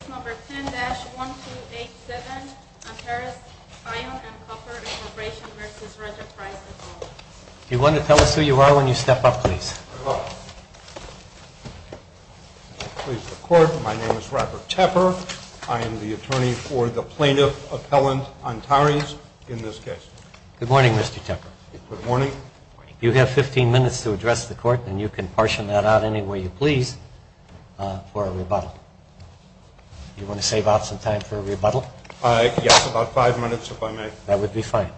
Do you want to tell us who you are when you step up, please? Good morning. I am pleased to report my name is Robert Tepper. I am the attorney for the plaintiff, Appellant Antares, in this case. Good morning, Mr. Tepper. Good morning. You have 15 minutes to address the court, and you can portion that out any way you please for a rebuttal. Do you want to save out some time for a rebuttal? Yes, about five minutes, if I may. That would be fine.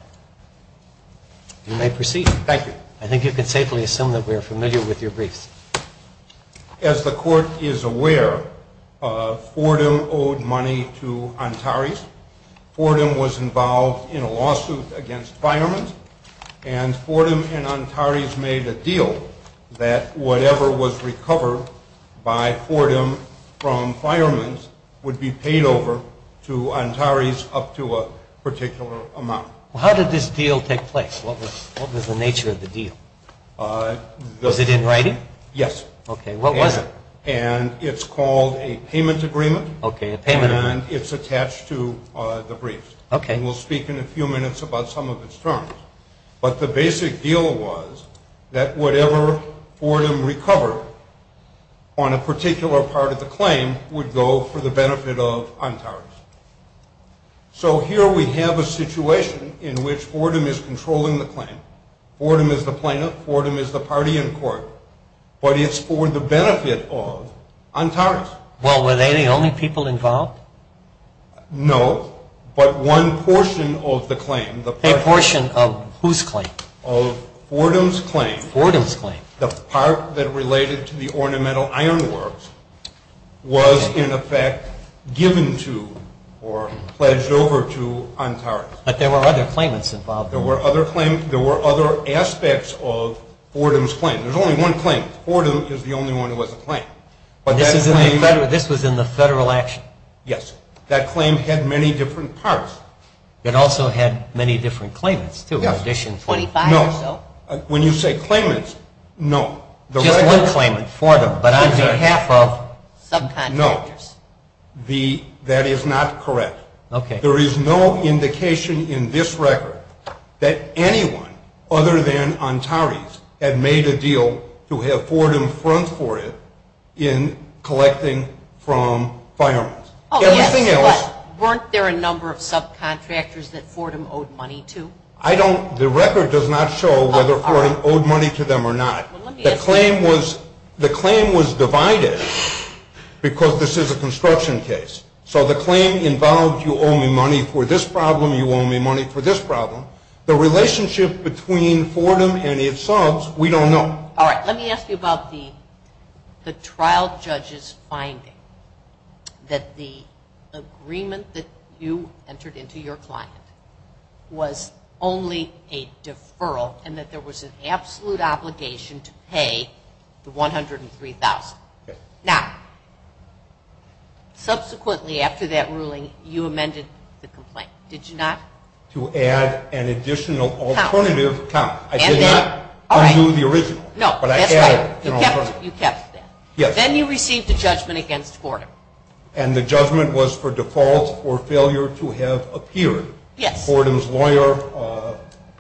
You may proceed. Thank you. I think you can safely assume that we are familiar with your briefs. As the court is aware, Fordham owed money to Antares. Fordham was involved in a lawsuit against Fireman's. And Fordham and Antares made a deal that whatever was recovered by Fordham from Fireman's would be paid over to Antares up to a particular amount. How did this deal take place? What was the nature of the deal? Was it in writing? Yes. Okay. What was it? And it's called a payment agreement. Okay, a payment agreement. And it's attached to the briefs. Okay. And we'll speak in a few minutes about some of its terms. But the basic deal was that whatever Fordham recovered on a particular part of the claim would go for the benefit of Antares. So here we have a situation in which Fordham is controlling the claim. Fordham is the plaintiff. Fordham is the party in court. But it's for the benefit of Antares. Well, were they the only people involved? No, but one portion of the claim. A portion of whose claim? Of Fordham's claim. Fordham's claim. The part that related to the ornamental ironworks was, in effect, given to or pledged over to Antares. But there were other claimants involved. There were other claimants. There were other aspects of Fordham's claim. There's only one claimant. Fordham is the only one who has a claim. This was in the federal action? Yes. That claim had many different parts. It also had many different claimants, too. Yes. 25 or so. When you say claimants, no. Just one claimant, Fordham, but on behalf of subcontractors. No. That is not correct. Okay. There is no indication in this record that anyone other than Antares had made a deal to have Fordham front for it in collecting from firearms. Oh, yes, but weren't there a number of subcontractors that Fordham owed money to? The record does not show whether Fordham owed money to them or not. The claim was divided because this is a construction case. So the claim involved you owe me money for this problem, you owe me money for this problem. The relationship between Fordham and its subs, we don't know. All right, let me ask you about the trial judge's finding that the agreement that you entered into your client was only a deferral and that there was an absolute obligation to pay the $103,000. Now, subsequently after that ruling, you amended the complaint, did you not? To add an additional alternative account. I did not undo the original. No, that's right. You kept that. Yes. Then you received a judgment against Fordham. And the judgment was for default or failure to have appeared. Yes. Fordham's lawyer,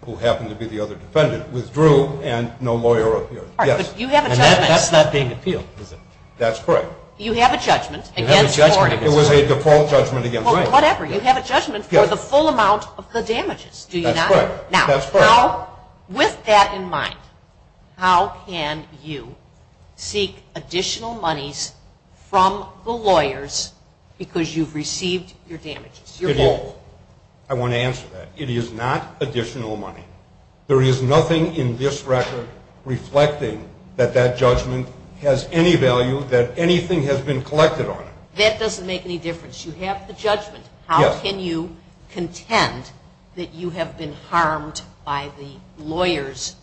who happened to be the other defendant, withdrew and no lawyer appeared. All right, but you have a judgment. And that's not being appealed, is it? That's correct. You have a judgment against Fordham. It was a default judgment against Fordham. Whatever, you have a judgment for the full amount of the damages, do you not? That's correct. Now, with that in mind, how can you seek additional monies from the lawyers because you've received your damages? I want to answer that. It is not additional money. There is nothing in this record reflecting that that judgment has any value, that anything has been collected on it. That doesn't make any difference. You have the judgment. How can you contend that you have been harmed by the lawyer's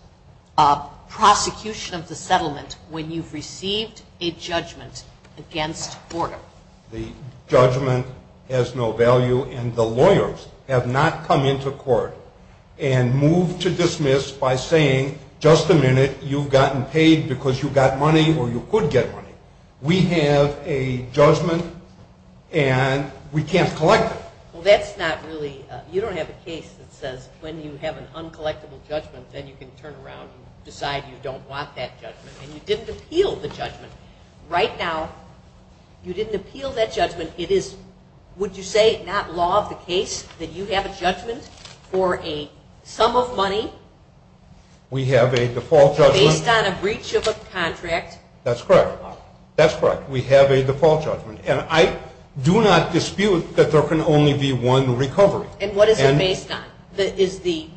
prosecution of the settlement when you've received a judgment against Fordham? The judgment has no value, and the lawyers have not come into court and moved to dismiss by saying, just a minute, you've gotten paid because you got money or you could get money. We have a judgment, and we can't collect it. Well, that's not really – you don't have a case that says when you have an uncollectible judgment, then you can turn around and decide you don't want that judgment, and you didn't appeal the judgment. Right now, you didn't appeal that judgment. It is, would you say, not law of the case that you have a judgment for a sum of money? We have a default judgment. Based on a breach of a contract. That's correct. That's correct. We have a default judgment. And I do not dispute that there can only be one recovery. And what is it based on? Is the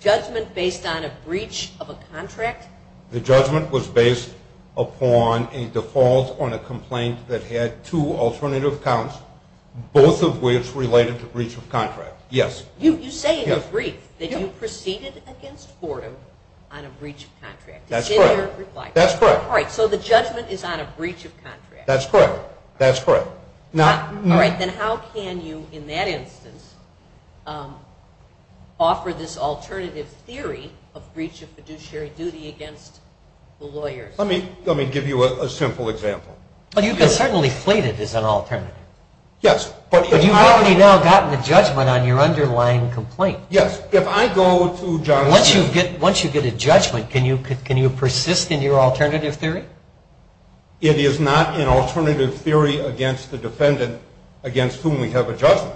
judgment based on a breach of a contract? The judgment was based upon a default on a complaint that had two alternative counts, both of which related to breach of contract, yes. You say in the brief that you proceeded against Fordham on a breach of contract. That's correct. That's correct. All right, so the judgment is on a breach of contract. That's correct. That's correct. All right, then how can you, in that instance, offer this alternative theory of breach of fiduciary duty against the lawyers? Let me give you a simple example. Well, you can certainly plate it as an alternative. Yes. But you've already now gotten a judgment on your underlying complaint. Yes. Once you get a judgment, can you persist in your alternative theory? It is not an alternative theory against the defendant against whom we have a judgment.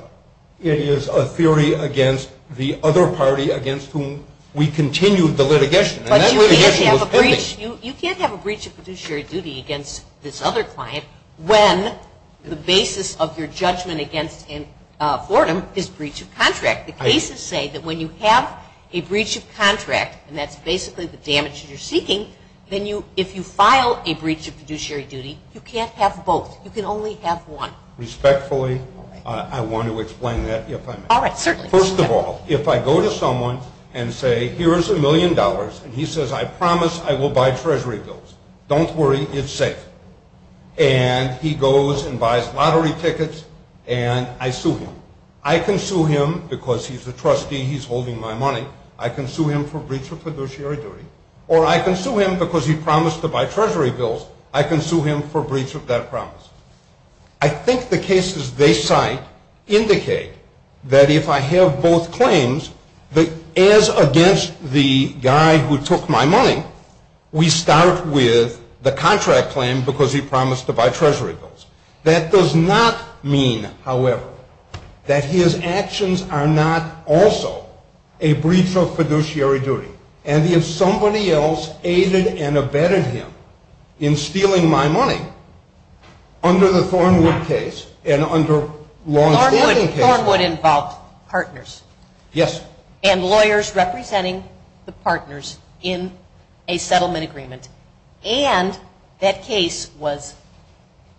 It is a theory against the other party against whom we continued the litigation. But you can't have a breach of fiduciary duty against this other client when the basis of your judgment against Fordham is breach of contract. The cases say that when you have a breach of contract, and that's basically the damage that you're seeking, then if you file a breach of fiduciary duty, you can't have both. You can only have one. Respectfully, I want to explain that if I may. All right, certainly. First of all, if I go to someone and say, here's a million dollars, and he says, I promise I will buy Treasury bills. Don't worry, it's safe. And he goes and buys lottery tickets, and I sue him. I can sue him because he's a trustee, he's holding my money. I can sue him for breach of fiduciary duty. Or I can sue him because he promised to buy Treasury bills. I can sue him for breach of that promise. I think the cases they cite indicate that if I have both claims, as against the guy who took my money, we start with the contract claim because he promised to buy Treasury bills. That does not mean, however, that his actions are not also a breach of fiduciary duty. And if somebody else aided and abetted him in stealing my money, under the Thornwood case and under long-standing cases. Thornwood involved partners. Yes. And lawyers representing the partners in a settlement agreement. And that case was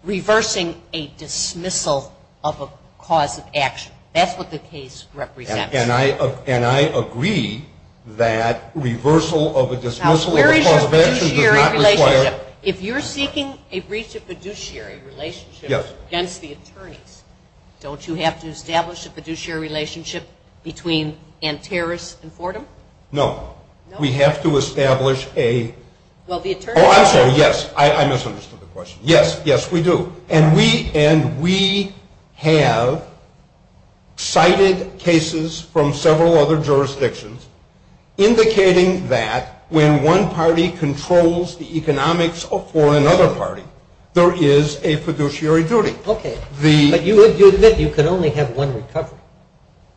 reversing a dismissal of a cause of action. That's what the case represents. And I agree that reversal of a dismissal of a cause of action does not require. Now, where is your fiduciary relationship? If you're seeking a breach of fiduciary relationship against the attorneys, don't you have to establish a fiduciary relationship between Antares and Fordham? No. No? I have to establish a... Well, the attorneys... Oh, I'm sorry. Yes. I misunderstood the question. Yes. Yes, we do. And we have cited cases from several other jurisdictions, indicating that when one party controls the economics for another party, there is a fiduciary duty. Okay.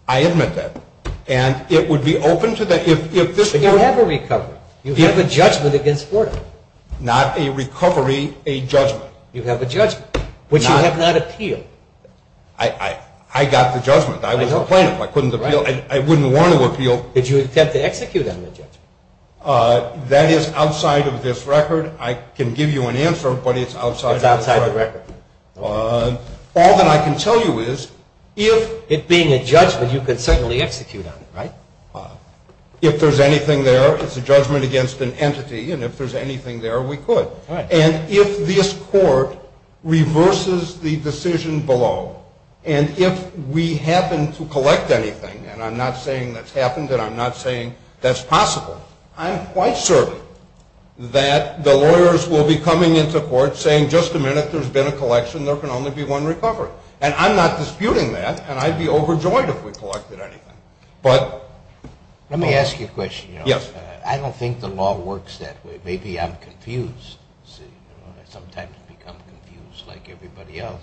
I admit that. And it would be open to... You have a recovery. You have a judgment against Fordham. Not a recovery, a judgment. You have a judgment, which you have not appealed. I got the judgment. I was a plaintiff. I couldn't appeal. I wouldn't want to appeal. Did you attempt to execute on the judgment? That is outside of this record. I can give you an answer, but it's outside of this record. It's outside the record. All that I can tell you is, if it being a judgment, you could certainly execute on it, right? If there's anything there, it's a judgment against an entity, and if there's anything there, we could. And if this court reverses the decision below, and if we happen to collect anything, and I'm not saying that's happened and I'm not saying that's possible, I'm quite certain that the lawyers will be coming into court saying, just a minute, there's been a collection, there can only be one recovery. And I'm not disputing that, and I'd be overjoyed if we collected anything. Let me ask you a question. Yes. I don't think the law works that way. Maybe I'm confused. I sometimes become confused like everybody else.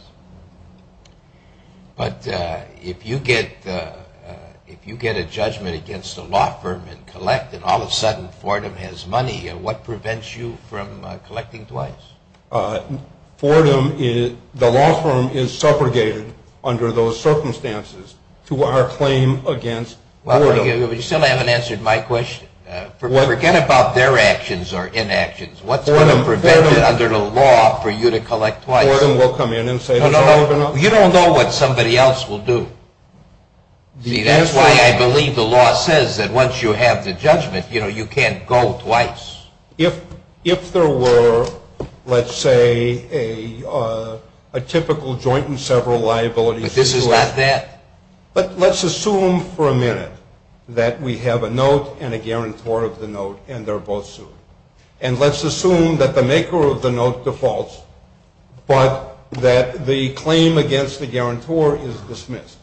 But if you get a judgment against a law firm and collect, and all of a sudden Fordham has money, what prevents you from collecting twice? Fordham, the law firm is segregated under those circumstances to our claim against Fordham. You still haven't answered my question. Forget about their actions or inactions. What's going to prevent it under the law for you to collect twice? Fordham will come in and say that's all of it. You don't know what somebody else will do. See, that's why I believe the law says that once you have the judgment, you know, you can't go twice. If there were, let's say, a typical joint and several liabilities. But this is not that. But let's assume for a minute that we have a note and a guarantor of the note, and they're both sued. And let's assume that the maker of the note defaults, but that the claim against the guarantor is dismissed.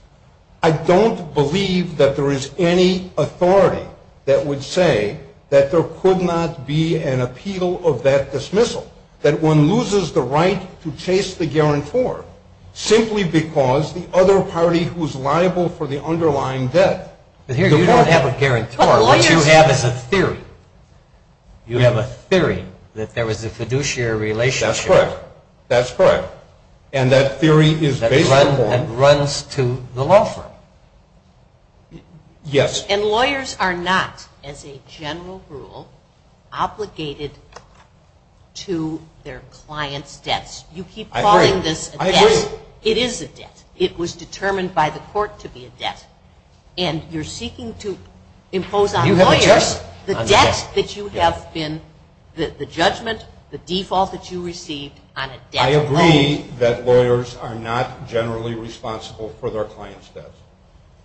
I don't believe that there is any authority that would say that there could not be an appeal of that dismissal, that one loses the right to chase the guarantor simply because the other party who is liable for the underlying debt. But here you don't have a guarantor. What you have is a theory. You have a theory that there was a fiduciary relationship. That's correct. That's correct. And that theory is based on the law. And runs to the law firm. Yes. And lawyers are not, as a general rule, obligated to their clients' debts. I agree. You keep calling this a debt. I agree. It is a debt. It was determined by the court to be a debt. And you're seeking to impose on lawyers the debt that you have been, the judgment, the default that you received on a debt claim. I agree that lawyers are not generally responsible for their clients' debts.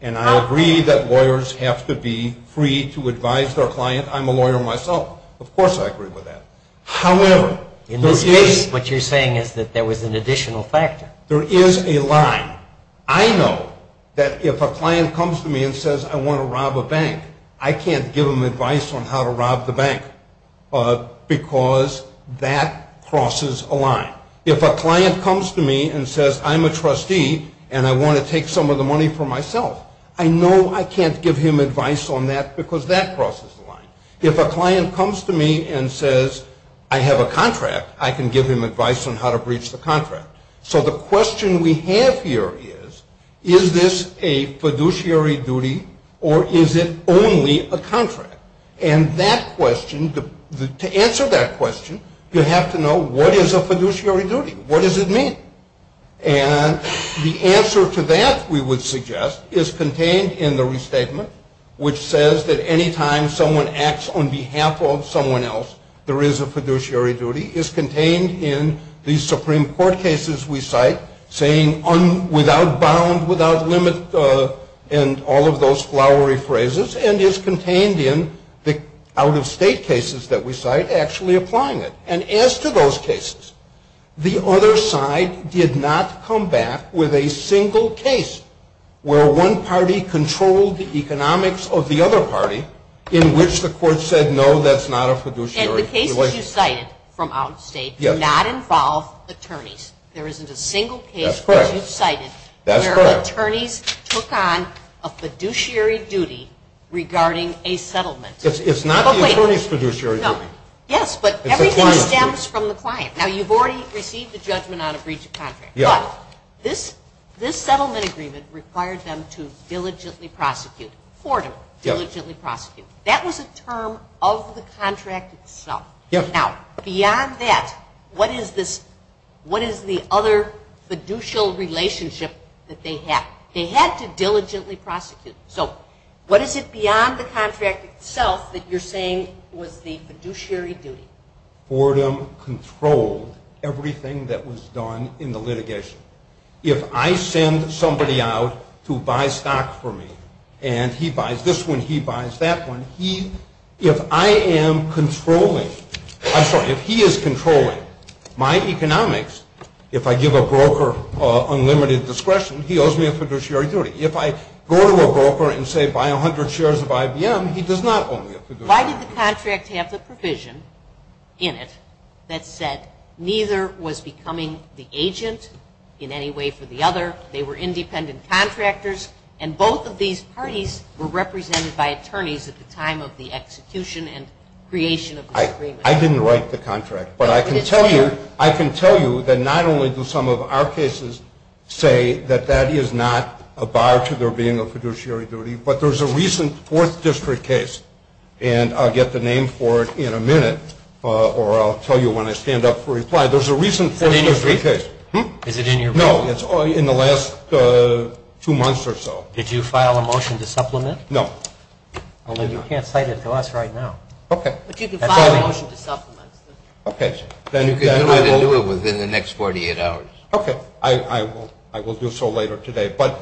And I agree that lawyers have to be free to advise their client. I'm a lawyer myself. Of course I agree with that. However, in this case, what you're saying is that there was an additional factor. There is a line. I know that if a client comes to me and says, I want to rob a bank, I can't give them advice on how to rob the bank because that crosses a line. If a client comes to me and says, I'm a trustee and I want to take some of the money for myself, I know I can't give him advice on that because that crosses the line. If a client comes to me and says, I have a contract, I can give him advice on how to breach the contract. So the question we have here is, is this a fiduciary duty or is it only a contract? And that question, to answer that question, you have to know what is a fiduciary duty? What does it mean? And the answer to that, we would suggest, is contained in the restatement, which says that any time someone acts on behalf of someone else, there is a fiduciary duty, is contained in the Supreme Court cases we cite, saying without bound, without limit, and all of those flowery phrases, and is contained in the out-of-state cases that we cite actually applying it. And as to those cases, the other side did not come back with a single case where one party controlled the economics of the other party in which the court said, no, that's not a fiduciary relationship. And the cases you cited from out-of-state do not involve attorneys. There isn't a single case, as you cited, where attorneys took on a fiduciary duty regarding a settlement. It's not the attorney's fiduciary duty. Yes, but everything stems from the client. Now, you've already received the judgment on a breach of contract. But this settlement agreement required them to diligently prosecute, for them to diligently prosecute. That was a term of the contract itself. Yes. Now, beyond that, what is the other fiduciary relationship that they had? They had to diligently prosecute. So what is it beyond the contract itself that you're saying was the fiduciary duty? Fordham controlled everything that was done in the litigation. If I send somebody out to buy stock for me, and he buys this one, he buys that one, if I am controlling, I'm sorry, if he is controlling my economics, if I give a broker unlimited discretion, he owes me a fiduciary duty. If I go to a broker and say buy 100 shares of IBM, he does not owe me a fiduciary duty. Why did the contract have the provision in it that said neither was becoming the agent in any way for the other? They were independent contractors. And both of these parties were represented by attorneys at the time of the execution and creation of this agreement. I didn't write the contract. But I can tell you that not only do some of our cases say that that is not a bar to there being a fiduciary duty, but there's a recent Fourth District case, and I'll get the name for it in a minute, or I'll tell you when I stand up for reply. Is it in your brief? No, it's in the last two months or so. Did you file a motion to supplement? No. Only you can't cite it to us right now. Okay. But you can file a motion to supplement. Okay. You can do it within the next 48 hours. Okay. I will do so later today. But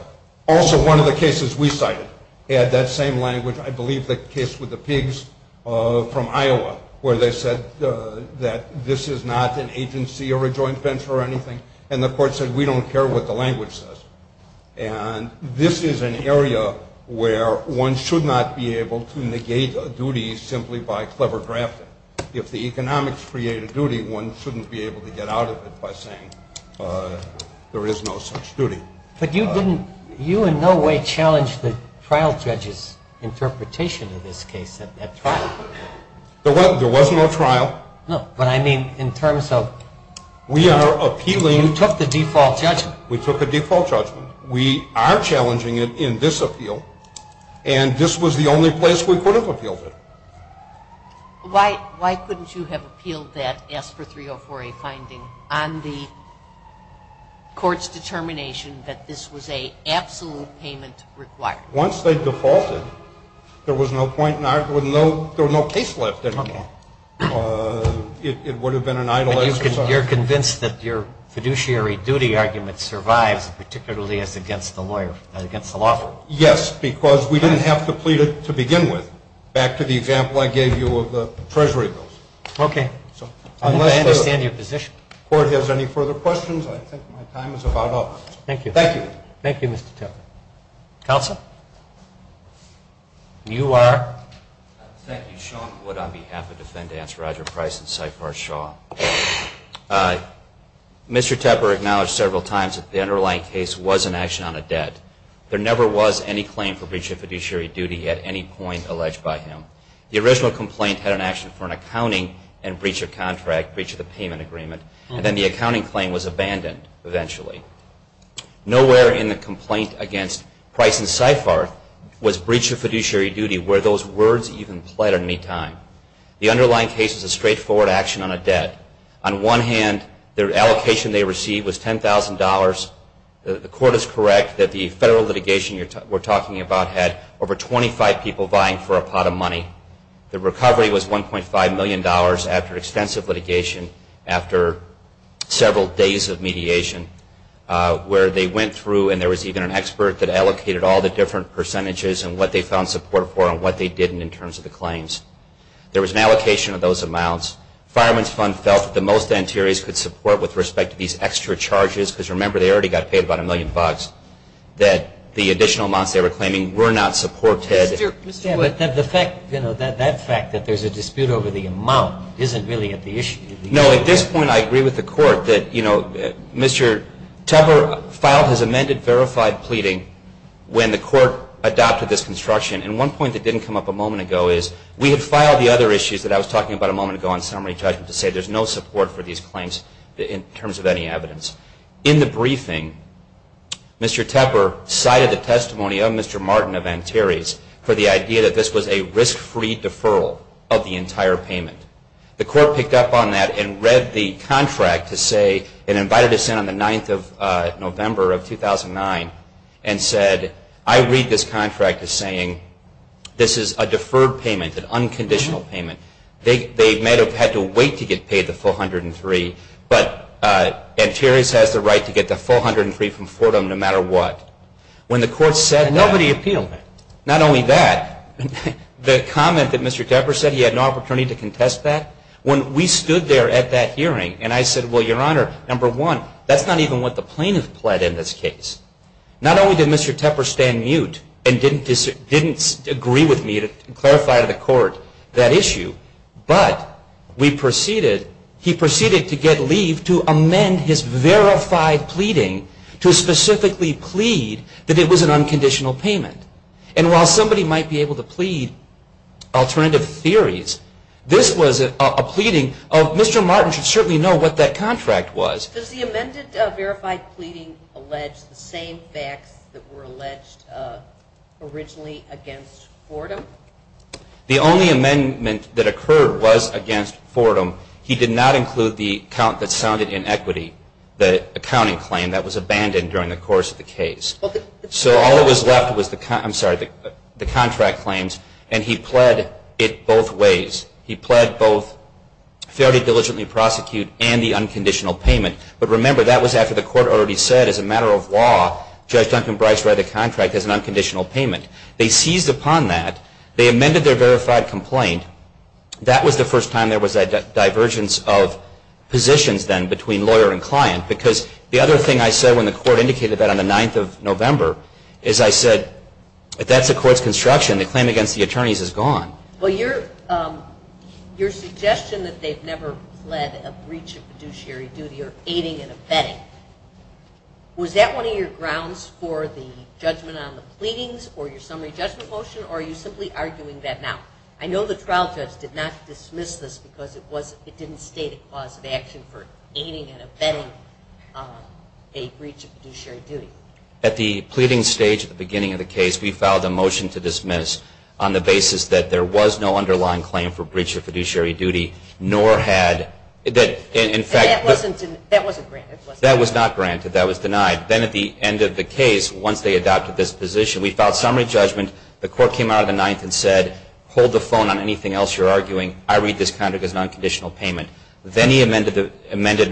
also one of the cases we cited had that same language, I believe the case with the pigs from Iowa, where they said that this is not an agency or a joint venture or anything, and the court said we don't care what the language says. And this is an area where one should not be able to negate a duty simply by clever grafting. If the economics create a duty, one shouldn't be able to get out of it by saying there is no such duty. But you in no way challenged the trial judge's interpretation of this case at that trial. There was no trial. No. But I mean in terms of you took the default judgment. We took a default judgment. We are challenging it in this appeal, and this was the only place we could have appealed it. Why couldn't you have appealed that ASPR 304A finding on the court's determination that this was an absolute payment required? Once they defaulted, there was no point in arguing. There was no case left anymore. It would have been an idle exercise. You're convinced that your fiduciary duty argument survives, particularly as against the lawyer, against the law firm? Yes, because we didn't have to plead it to begin with, back to the example I gave you of the treasury bills. Okay. I understand your position. If the court has any further questions, I think my time is about up. Thank you. Thank you. Thank you, Mr. Tepper. Counsel? You are? Thank you. Sean Wood on behalf of defendants Roger Price and Saifar Shaw. Mr. Tepper acknowledged several times that the underlying case was an action on a debt. There never was any claim for breach of fiduciary duty at any point alleged by him. The original complaint had an action for an accounting and breach of contract, breach of the payment agreement, and then the accounting claim was abandoned eventually. Nowhere in the complaint against Price and Saifar was breach of fiduciary duty where those words even played any time. The underlying case is a straightforward action on a debt. On one hand, their allocation they received was $10,000. The court is correct that the federal litigation we're talking about had over 25 people vying for a pot of money. The recovery was $1.5 million after extensive litigation, after several days of mediation. Where they went through and there was even an expert that allocated all the different percentages and what they found support for and what they didn't in terms of the claims. There was an allocation of those amounts. Fireman's Fund felt that the most the interiors could support with respect to these extra charges because remember they already got paid about a million bucks. That the additional amounts they were claiming were not supported. Mr. Wood, that fact that there's a dispute over the amount isn't really at the issue. No, at this point I agree with the court that Mr. Tepper filed his amended verified pleading when the court adopted this construction. And one point that didn't come up a moment ago is we had filed the other issues that I was talking about a moment ago on summary judgment to say there's no support for these claims in terms of any evidence. In the briefing, Mr. Tepper cited the testimony of Mr. Martin of Antares for the idea that this was a risk-free deferral of the entire payment. The court picked up on that and read the contract to say and invited us in on the 9th of November of 2009 and said, I read this contract as saying this is a deferred payment, an unconditional payment. They may have had to wait to get paid the full $103,000, but Antares has the right to get the full $103,000 from Fordham no matter what. And nobody appealed that. Not only that, the comment that Mr. Tepper said he had no opportunity to contest that, when we stood there at that hearing and I said, well, Your Honor, number one, that's not even what the plaintiff pled in this case. Not only did Mr. Tepper stand mute and didn't agree with me to clarify to the court that issue, but he proceeded to get leave to amend his verified pleading to specifically plead that it was an unconditional payment. And while somebody might be able to plead alternative theories, this was a pleading of Mr. Martin should certainly know what that contract was. Does the amended verified pleading allege the same facts that were alleged originally against Fordham? The only amendment that occurred was against Fordham. He did not include the count that sounded inequity, the accounting claim that was abandoned during the course of the case. So all that was left was the contract claims, and he pled it both ways. He pled both fairly diligently prosecute and the unconditional payment. But remember, that was after the court already said as a matter of law, Judge Duncan Bryce read the contract as an unconditional payment. They seized upon that. They amended their verified complaint. That was the first time there was a divergence of positions then between lawyer and client, because the other thing I said when the court indicated that on the 9th of November is I said, if that's the court's construction, the claim against the attorneys is gone. Well, your suggestion that they've never fled a breach of fiduciary duty or aiding and abetting, was that one of your grounds for the judgment on the pleadings or your summary judgment motion, or are you simply arguing that now? I know the trial judge did not dismiss this because it didn't state a cause of action for aiding and abetting a breach of fiduciary duty. At the pleading stage at the beginning of the case, we filed a motion to dismiss on the basis that there was no underlying claim for breach of fiduciary duty, nor had, in fact- That wasn't granted. That was not granted. That was denied. Then at the end of the case, once they adopted this position, we filed summary judgment. The court came out on the 9th and said, hold the phone on anything else you're arguing. I read this contract as an unconditional payment. Then he amended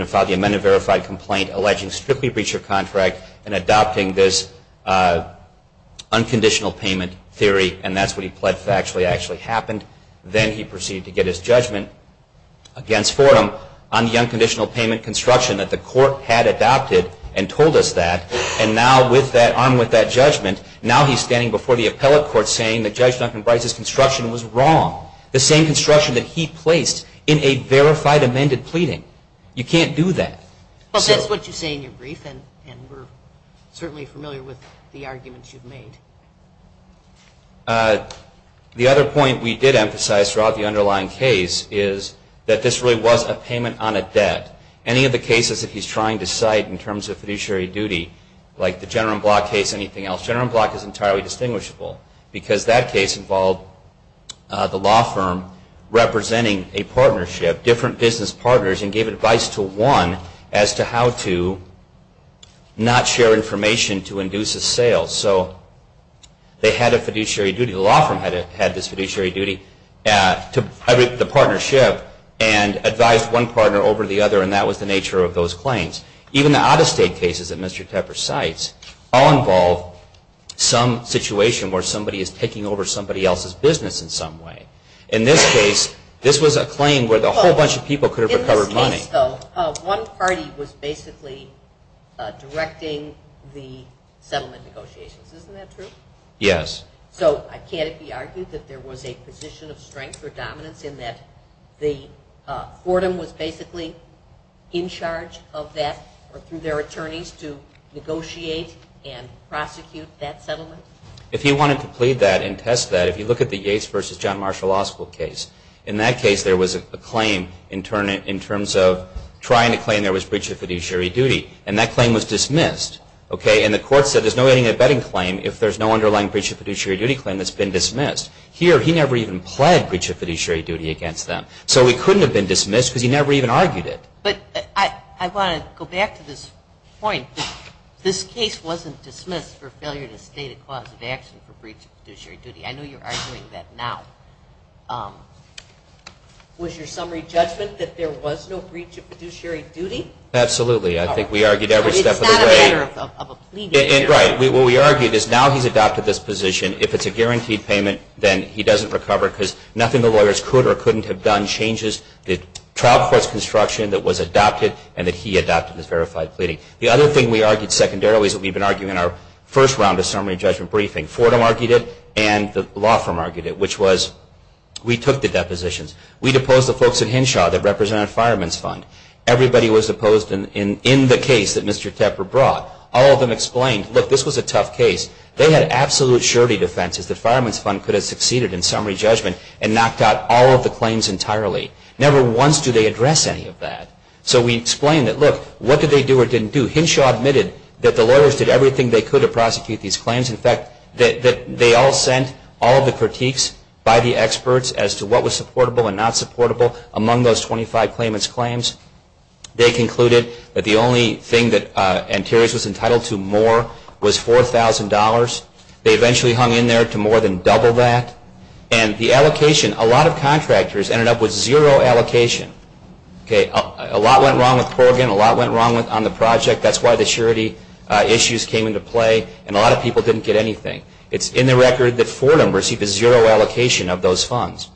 and filed the amended verified complaint, alleging strictly breach of contract and adopting this unconditional payment theory, and that's what he pled factually actually happened. Then he proceeded to get his judgment against Fordham on the unconditional payment construction that the court had adopted and told us that, and now armed with that judgment, now he's standing before the appellate court saying that Judge Duncan Brice's construction was wrong, the same construction that he placed in a verified amended pleading. You can't do that. Well, that's what you say in your brief, and we're certainly familiar with the arguments you've made. The other point we did emphasize throughout the underlying case is that this really was a payment on a debt. Any of the cases that he's trying to cite in terms of fiduciary duty, like the General and Block case, anything else, General and Block is entirely distinguishable because that case involved the law firm representing a partnership, different business partners, and gave advice to one as to how to not share information to induce a sale. So they had a fiduciary duty, the law firm had this fiduciary duty to the partnership and advised one partner over the other, and that was the nature of those claims. Even the out-of-state cases that Mr. Tepper cites all involve some situation where somebody is taking over somebody else's business in some way. In this case, this was a claim where a whole bunch of people could have recovered money. In this case, though, one party was basically directing the settlement negotiations. Isn't that true? Yes. So I can't be argued that there was a position of strength or dominance in that the Fordham was basically in charge of that through their attorneys to negotiate and prosecute that settlement? If you wanted to plead that and test that, if you look at the Yates v. John Marshall Law School case, in that case there was a claim in terms of trying to claim there was breach of fiduciary duty, and that claim was dismissed. And the court said there's no abetting claim if there's no underlying breach of fiduciary duty claim that's been dismissed. Here, he never even pled breach of fiduciary duty against them. So it couldn't have been dismissed because he never even argued it. But I want to go back to this point. This case wasn't dismissed for failure to state a cause of action for breach of fiduciary duty. I know you're arguing that now. Was your summary judgment that there was no breach of fiduciary duty? Absolutely. I think we argued every step of the way. It's not a matter of a plea. Right. What we argued is now he's adopted this position. If it's a guaranteed payment, then he doesn't recover because nothing the lawyers could or couldn't have done changes the trial court's construction that was adopted and that he adopted this verified pleading. The other thing we argued secondarily is what we've been arguing in our first round of summary judgment briefing. Fordham argued it and the law firm argued it, which was we took the depositions. We deposed the folks at Henshaw that represented Fireman's Fund. Everybody was opposed in the case that Mr. Tepper brought. All of them explained, look, this was a tough case. They had absolute surety defenses that Fireman's Fund could have succeeded in summary judgment and knocked out all of the claims entirely. Never once do they address any of that. So we explained that, look, what did they do or didn't do? Henshaw admitted that the lawyers did everything they could to prosecute these claims. In fact, they all sent all of the critiques by the experts as to what was supportable and not supportable among those 25 claimants' claims. They concluded that the only thing that Anterios was entitled to more was $4,000. They eventually hung in there to more than double that. And the allocation, a lot of contractors ended up with zero allocation. A lot went wrong with Corrigan. A lot went wrong on the project. That's why the surety issues came into play. And a lot of people didn't get anything. It's in the record that Fordham received a zero allocation of those funds,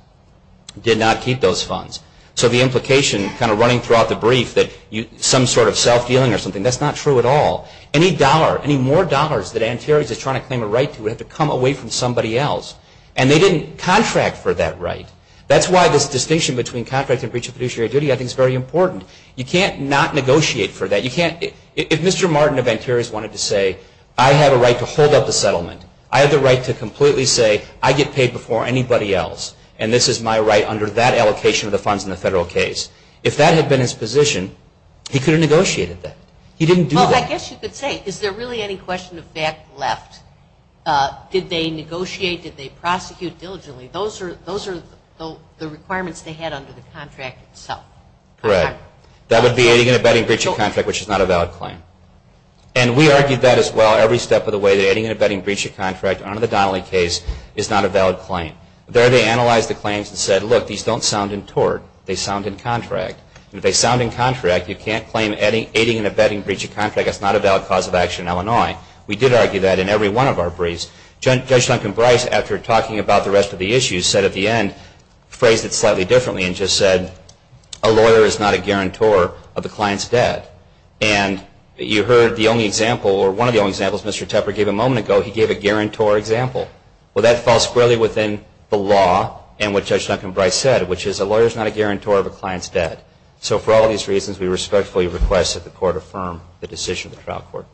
did not keep those funds. So the implication kind of running throughout the brief that some sort of self-dealing or something, that's not true at all. Any more dollars that Anterios is trying to claim a right to would have to come away from somebody else. And they didn't contract for that right. That's why this distinction between contract and breach of fiduciary duty I think is very important. You can't not negotiate for that. If Mr. Martin of Anterios wanted to say, I have a right to hold up the settlement, I have the right to completely say I get paid before anybody else, and this is my right under that allocation of the funds in the federal case, if that had been his position, he could have negotiated that. He didn't do that. Well, I guess you could say, is there really any question of fact left? Did they negotiate? Did they prosecute diligently? Those are the requirements they had under the contract itself. Correct. That would be aiding and abetting breach of contract, which is not a valid claim. And we argued that as well every step of the way, that aiding and abetting breach of contract under the Donnelly case is not a valid claim. There they analyzed the claims and said, look, these don't sound in tort. They sound in contract. If they sound in contract, you can't claim aiding and abetting breach of contract. That's not a valid cause of action in Illinois. We did argue that in every one of our briefs. Judge Duncan Brice, after talking about the rest of the issues, said at the end, phrased it slightly differently and just said, a lawyer is not a guarantor of the client's debt. And you heard the only example, or one of the only examples Mr. Tepper gave a moment ago, he gave a guarantor example. Well, that falls squarely within the law and what Judge Duncan Brice said, which is a lawyer is not a guarantor of a client's debt. So for all these reasons, we respectfully request that the Court affirm the decision of the trial court.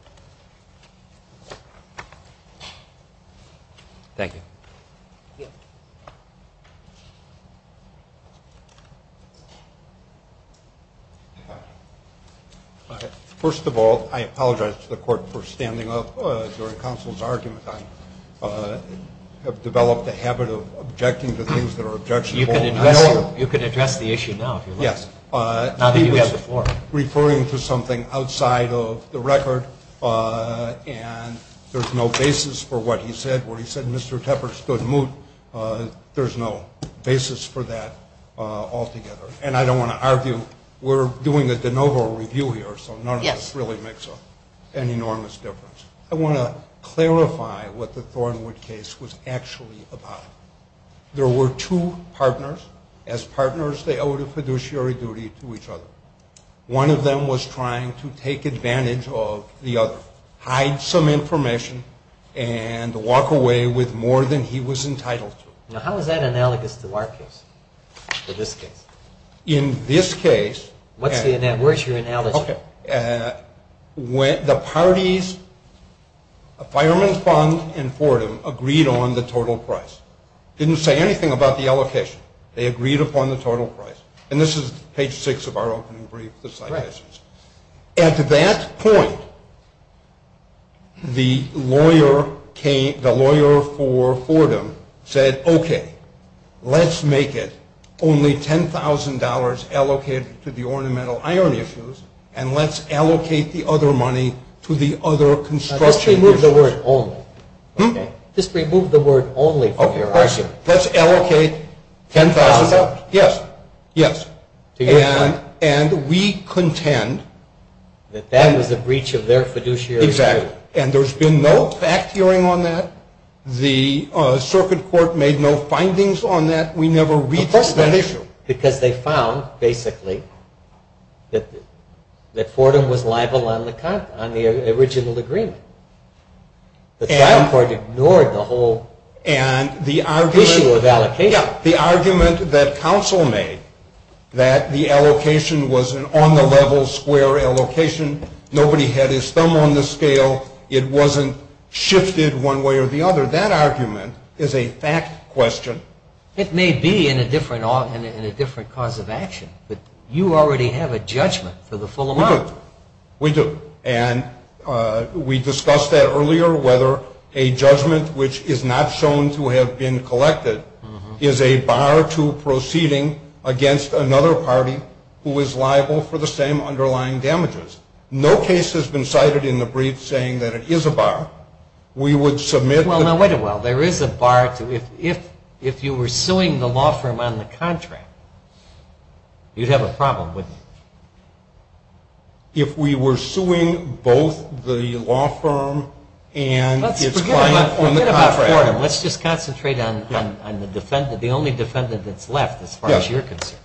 Thank you. First of all, I apologize to the Court for standing up during counsel's argument. I have developed a habit of objecting to things that are objectionable. You can address the issue now if you like. Yes, I was referring to something outside of the record, and there's no basis for what he said where he said Mr. Tepper stood moot. There's no basis for that altogether, and I don't want to argue. We're doing a de novo review here, so none of this really makes an enormous difference. I want to clarify what the Thornwood case was actually about. There were two partners. As partners, they owed a fiduciary duty to each other. One of them was trying to take advantage of the other, hide some information, and walk away with more than he was entitled to. Now, how is that analogous to our case or this case? In this case. What's your analogy? The parties, Fireman Fund and Fordham, agreed on the total price. Didn't say anything about the allocation. They agreed upon the total price, and this is page 6 of our opening brief. At that point, the lawyer for Fordham said, okay, let's make it only $10,000 allocated to the ornamental iron issues, and let's allocate the other money to the other construction issues. Just remove the word only. Just remove the word only from your argument. Let's allocate $10,000. Yes. Yes. And we contend. That that was a breach of their fiduciary duty. Exactly. And there's been no fact hearing on that. The circuit court made no findings on that. We never reached that issue. Because they found, basically, that Fordham was liable on the original agreement. The circuit court ignored the whole issue of allocation. The argument that counsel made, that the allocation was an on-the-level square allocation, nobody had his thumb on the scale, it wasn't shifted one way or the other, that argument is a fact question. It may be in a different cause of action, but you already have a judgment for the full amount. We do. And we discussed that earlier, whether a judgment which is not shown to have been collected is a bar to proceeding against another party who is liable for the same underlying damages. No case has been cited in the brief saying that it is a bar. Well, now, wait a while. There is a bar. If you were suing the law firm on the contract, you'd have a problem, wouldn't you? If we were suing both the law firm and its client on the contract. Let's forget about Fordham. Let's just concentrate on the defendant, the only defendant that's left as far as you're concerned.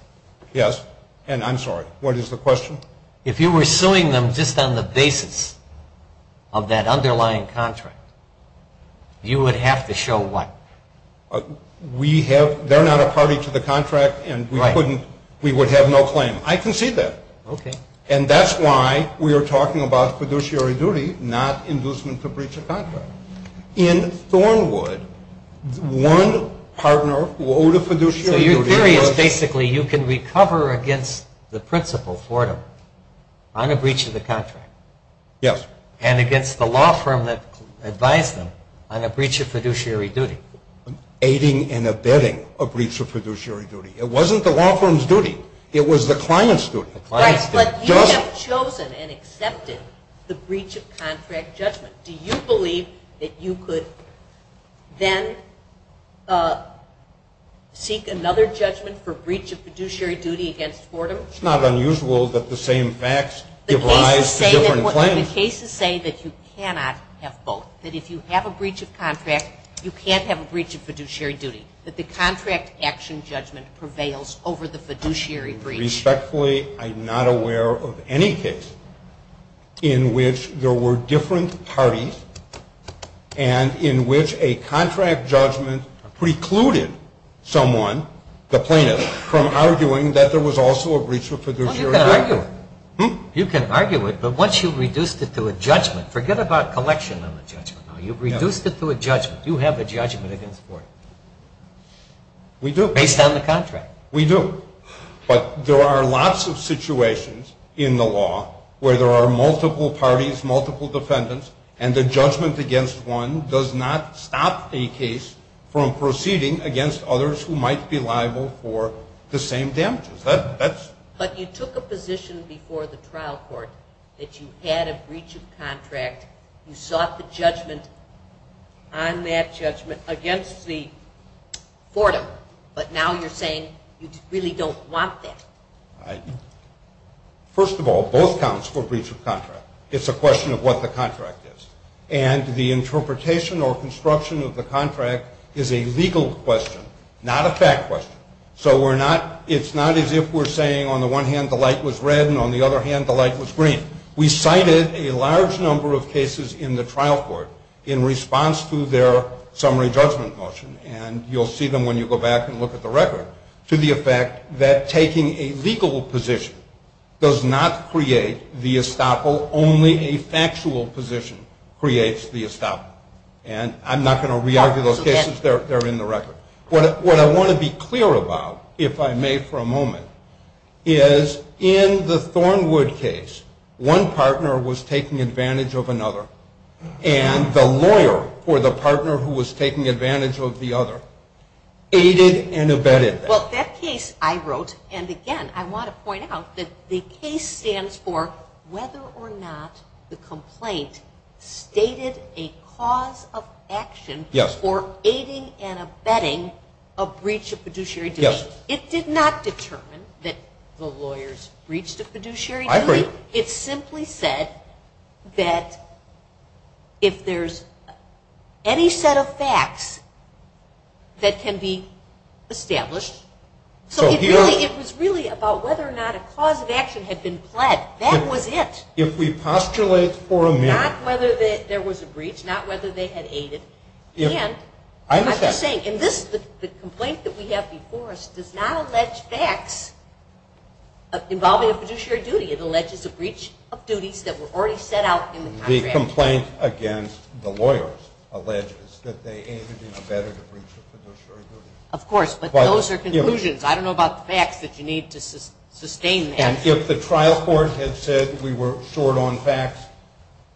Yes. And I'm sorry, what is the question? If you were suing them just on the basis of that underlying contract, you would have to show what? They're not a party to the contract and we would have no claim. I concede that. Okay. And that's why we are talking about fiduciary duty, not inducement to breach a contract. In Thornwood, one partner owed a fiduciary duty. The theory is basically you can recover against the principal, Fordham, on a breach of the contract. Yes. And against the law firm that advised them on a breach of fiduciary duty. Aiding and abetting a breach of fiduciary duty. It wasn't the law firm's duty. It was the client's duty. Right, but you have chosen and accepted the breach of contract judgment. Do you believe that you could then seek another judgment for breach of fiduciary duty against Fordham? It's not unusual that the same facts give rise to different claims. The cases say that you cannot have both. That if you have a breach of contract, you can't have a breach of fiduciary duty. That the contract action judgment prevails over the fiduciary breach. Respectfully, I'm not aware of any case in which there were different parties and in which a contract judgment precluded someone, the plaintiff, from arguing that there was also a breach of fiduciary duty. Well, you can argue it. Hmm? You can argue it, but once you've reduced it to a judgment. Forget about collection on the judgment. You've reduced it to a judgment. You have a judgment against Fordham. We do. Based on the contract. We do. But there are lots of situations in the law where there are multiple parties, multiple defendants, and the judgment against one does not stop a case from proceeding against others who might be liable for the same damages. But you took a position before the trial court that you had a breach of contract. You sought the judgment on that judgment against Fordham. But now you're saying you really don't want that. First of all, both counts for breach of contract. It's a question of what the contract is. And the interpretation or construction of the contract is a legal question, not a fact question. So it's not as if we're saying on the one hand the light was red and on the other hand the light was green. We cited a large number of cases in the trial court in response to their summary judgment motion. And you'll see them when you go back and look at the record, to the effect that taking a legal position does not create the estoppel. Only a factual position creates the estoppel. And I'm not going to re-argue those cases. They're in the record. What I want to be clear about, if I may for a moment, is in the Thornwood case one partner was taking advantage of another and the lawyer or the partner who was taking advantage of the other aided and abetted them. Well, that case I wrote, and, again, I want to point out that the case stands for whether or not the complaint stated a cause of action for aiding and abetting a breach of fiduciary duty. It did not determine that the lawyers breached a fiduciary duty. I agree. It simply said that if there's any set of facts that can be established. So it was really about whether or not a cause of action had been pled. That was it. If we postulate for a minute. Not whether there was a breach, not whether they had aided. And I'm just saying, and the complaint that we have before us does not allege facts involving a fiduciary duty. It alleges a breach of duties that were already set out in the contract. The complaint against the lawyers alleges that they aided and abetted a breach of fiduciary duty. Of course, but those are conclusions. I don't know about the facts that you need to sustain that. And if the trial court had said we were short on facts,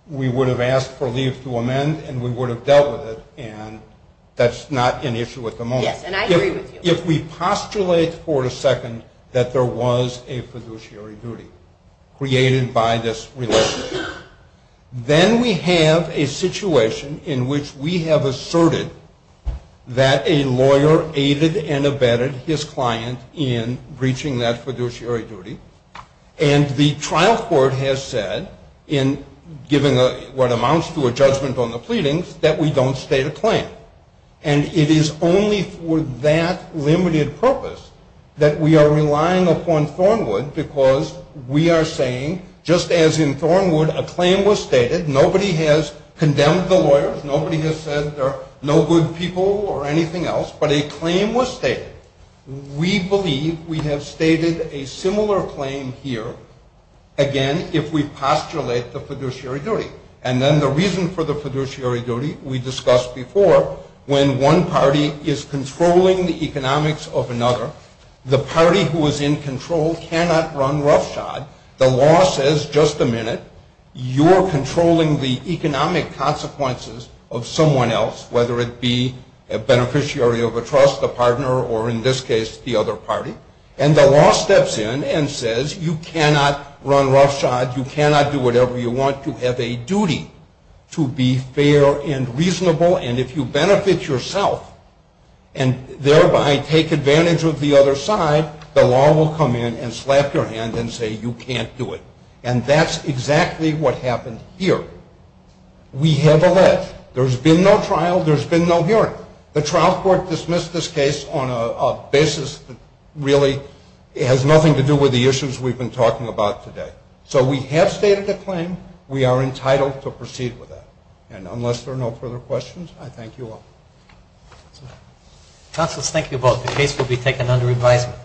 we would have asked for leave to amend and we would have dealt with it, and that's not an issue at the moment. Yes, and I agree with you. If we postulate for a second that there was a fiduciary duty created by this relationship, then we have a situation in which we have asserted that a lawyer aided and abetted his client in breaching that fiduciary duty, and the trial court has said, in giving what amounts to a judgment on the pleadings, that we don't state a claim. And it is only for that limited purpose that we are relying upon Thornwood because we are saying, just as in Thornwood, a claim was stated. Nobody has condemned the lawyers. Nobody has said they're no good people or anything else, but a claim was stated. We believe we have stated a similar claim here, again, if we postulate the fiduciary duty. And then the reason for the fiduciary duty we discussed before, when one party is controlling the economics of another, the party who is in control cannot run roughshod. The law says, just a minute, you're controlling the economic consequences of someone else, whether it be a beneficiary of a trust, a partner, or in this case the other party. And the law steps in and says, you cannot run roughshod. You cannot do whatever you want. You have a duty to be fair and reasonable, and if you benefit yourself and thereby take advantage of the other side, the law will come in and slap your hand and say you can't do it. And that's exactly what happened here. We have alleged. There's been no trial. There's been no hearing. The trial court dismissed this case on a basis that really has nothing to do with the issues we've been talking about today. So we have stated a claim. We are entitled to proceed with that. And unless there are no further questions, I thank you all. Counselors, thank you both. The case will be taken under advisement.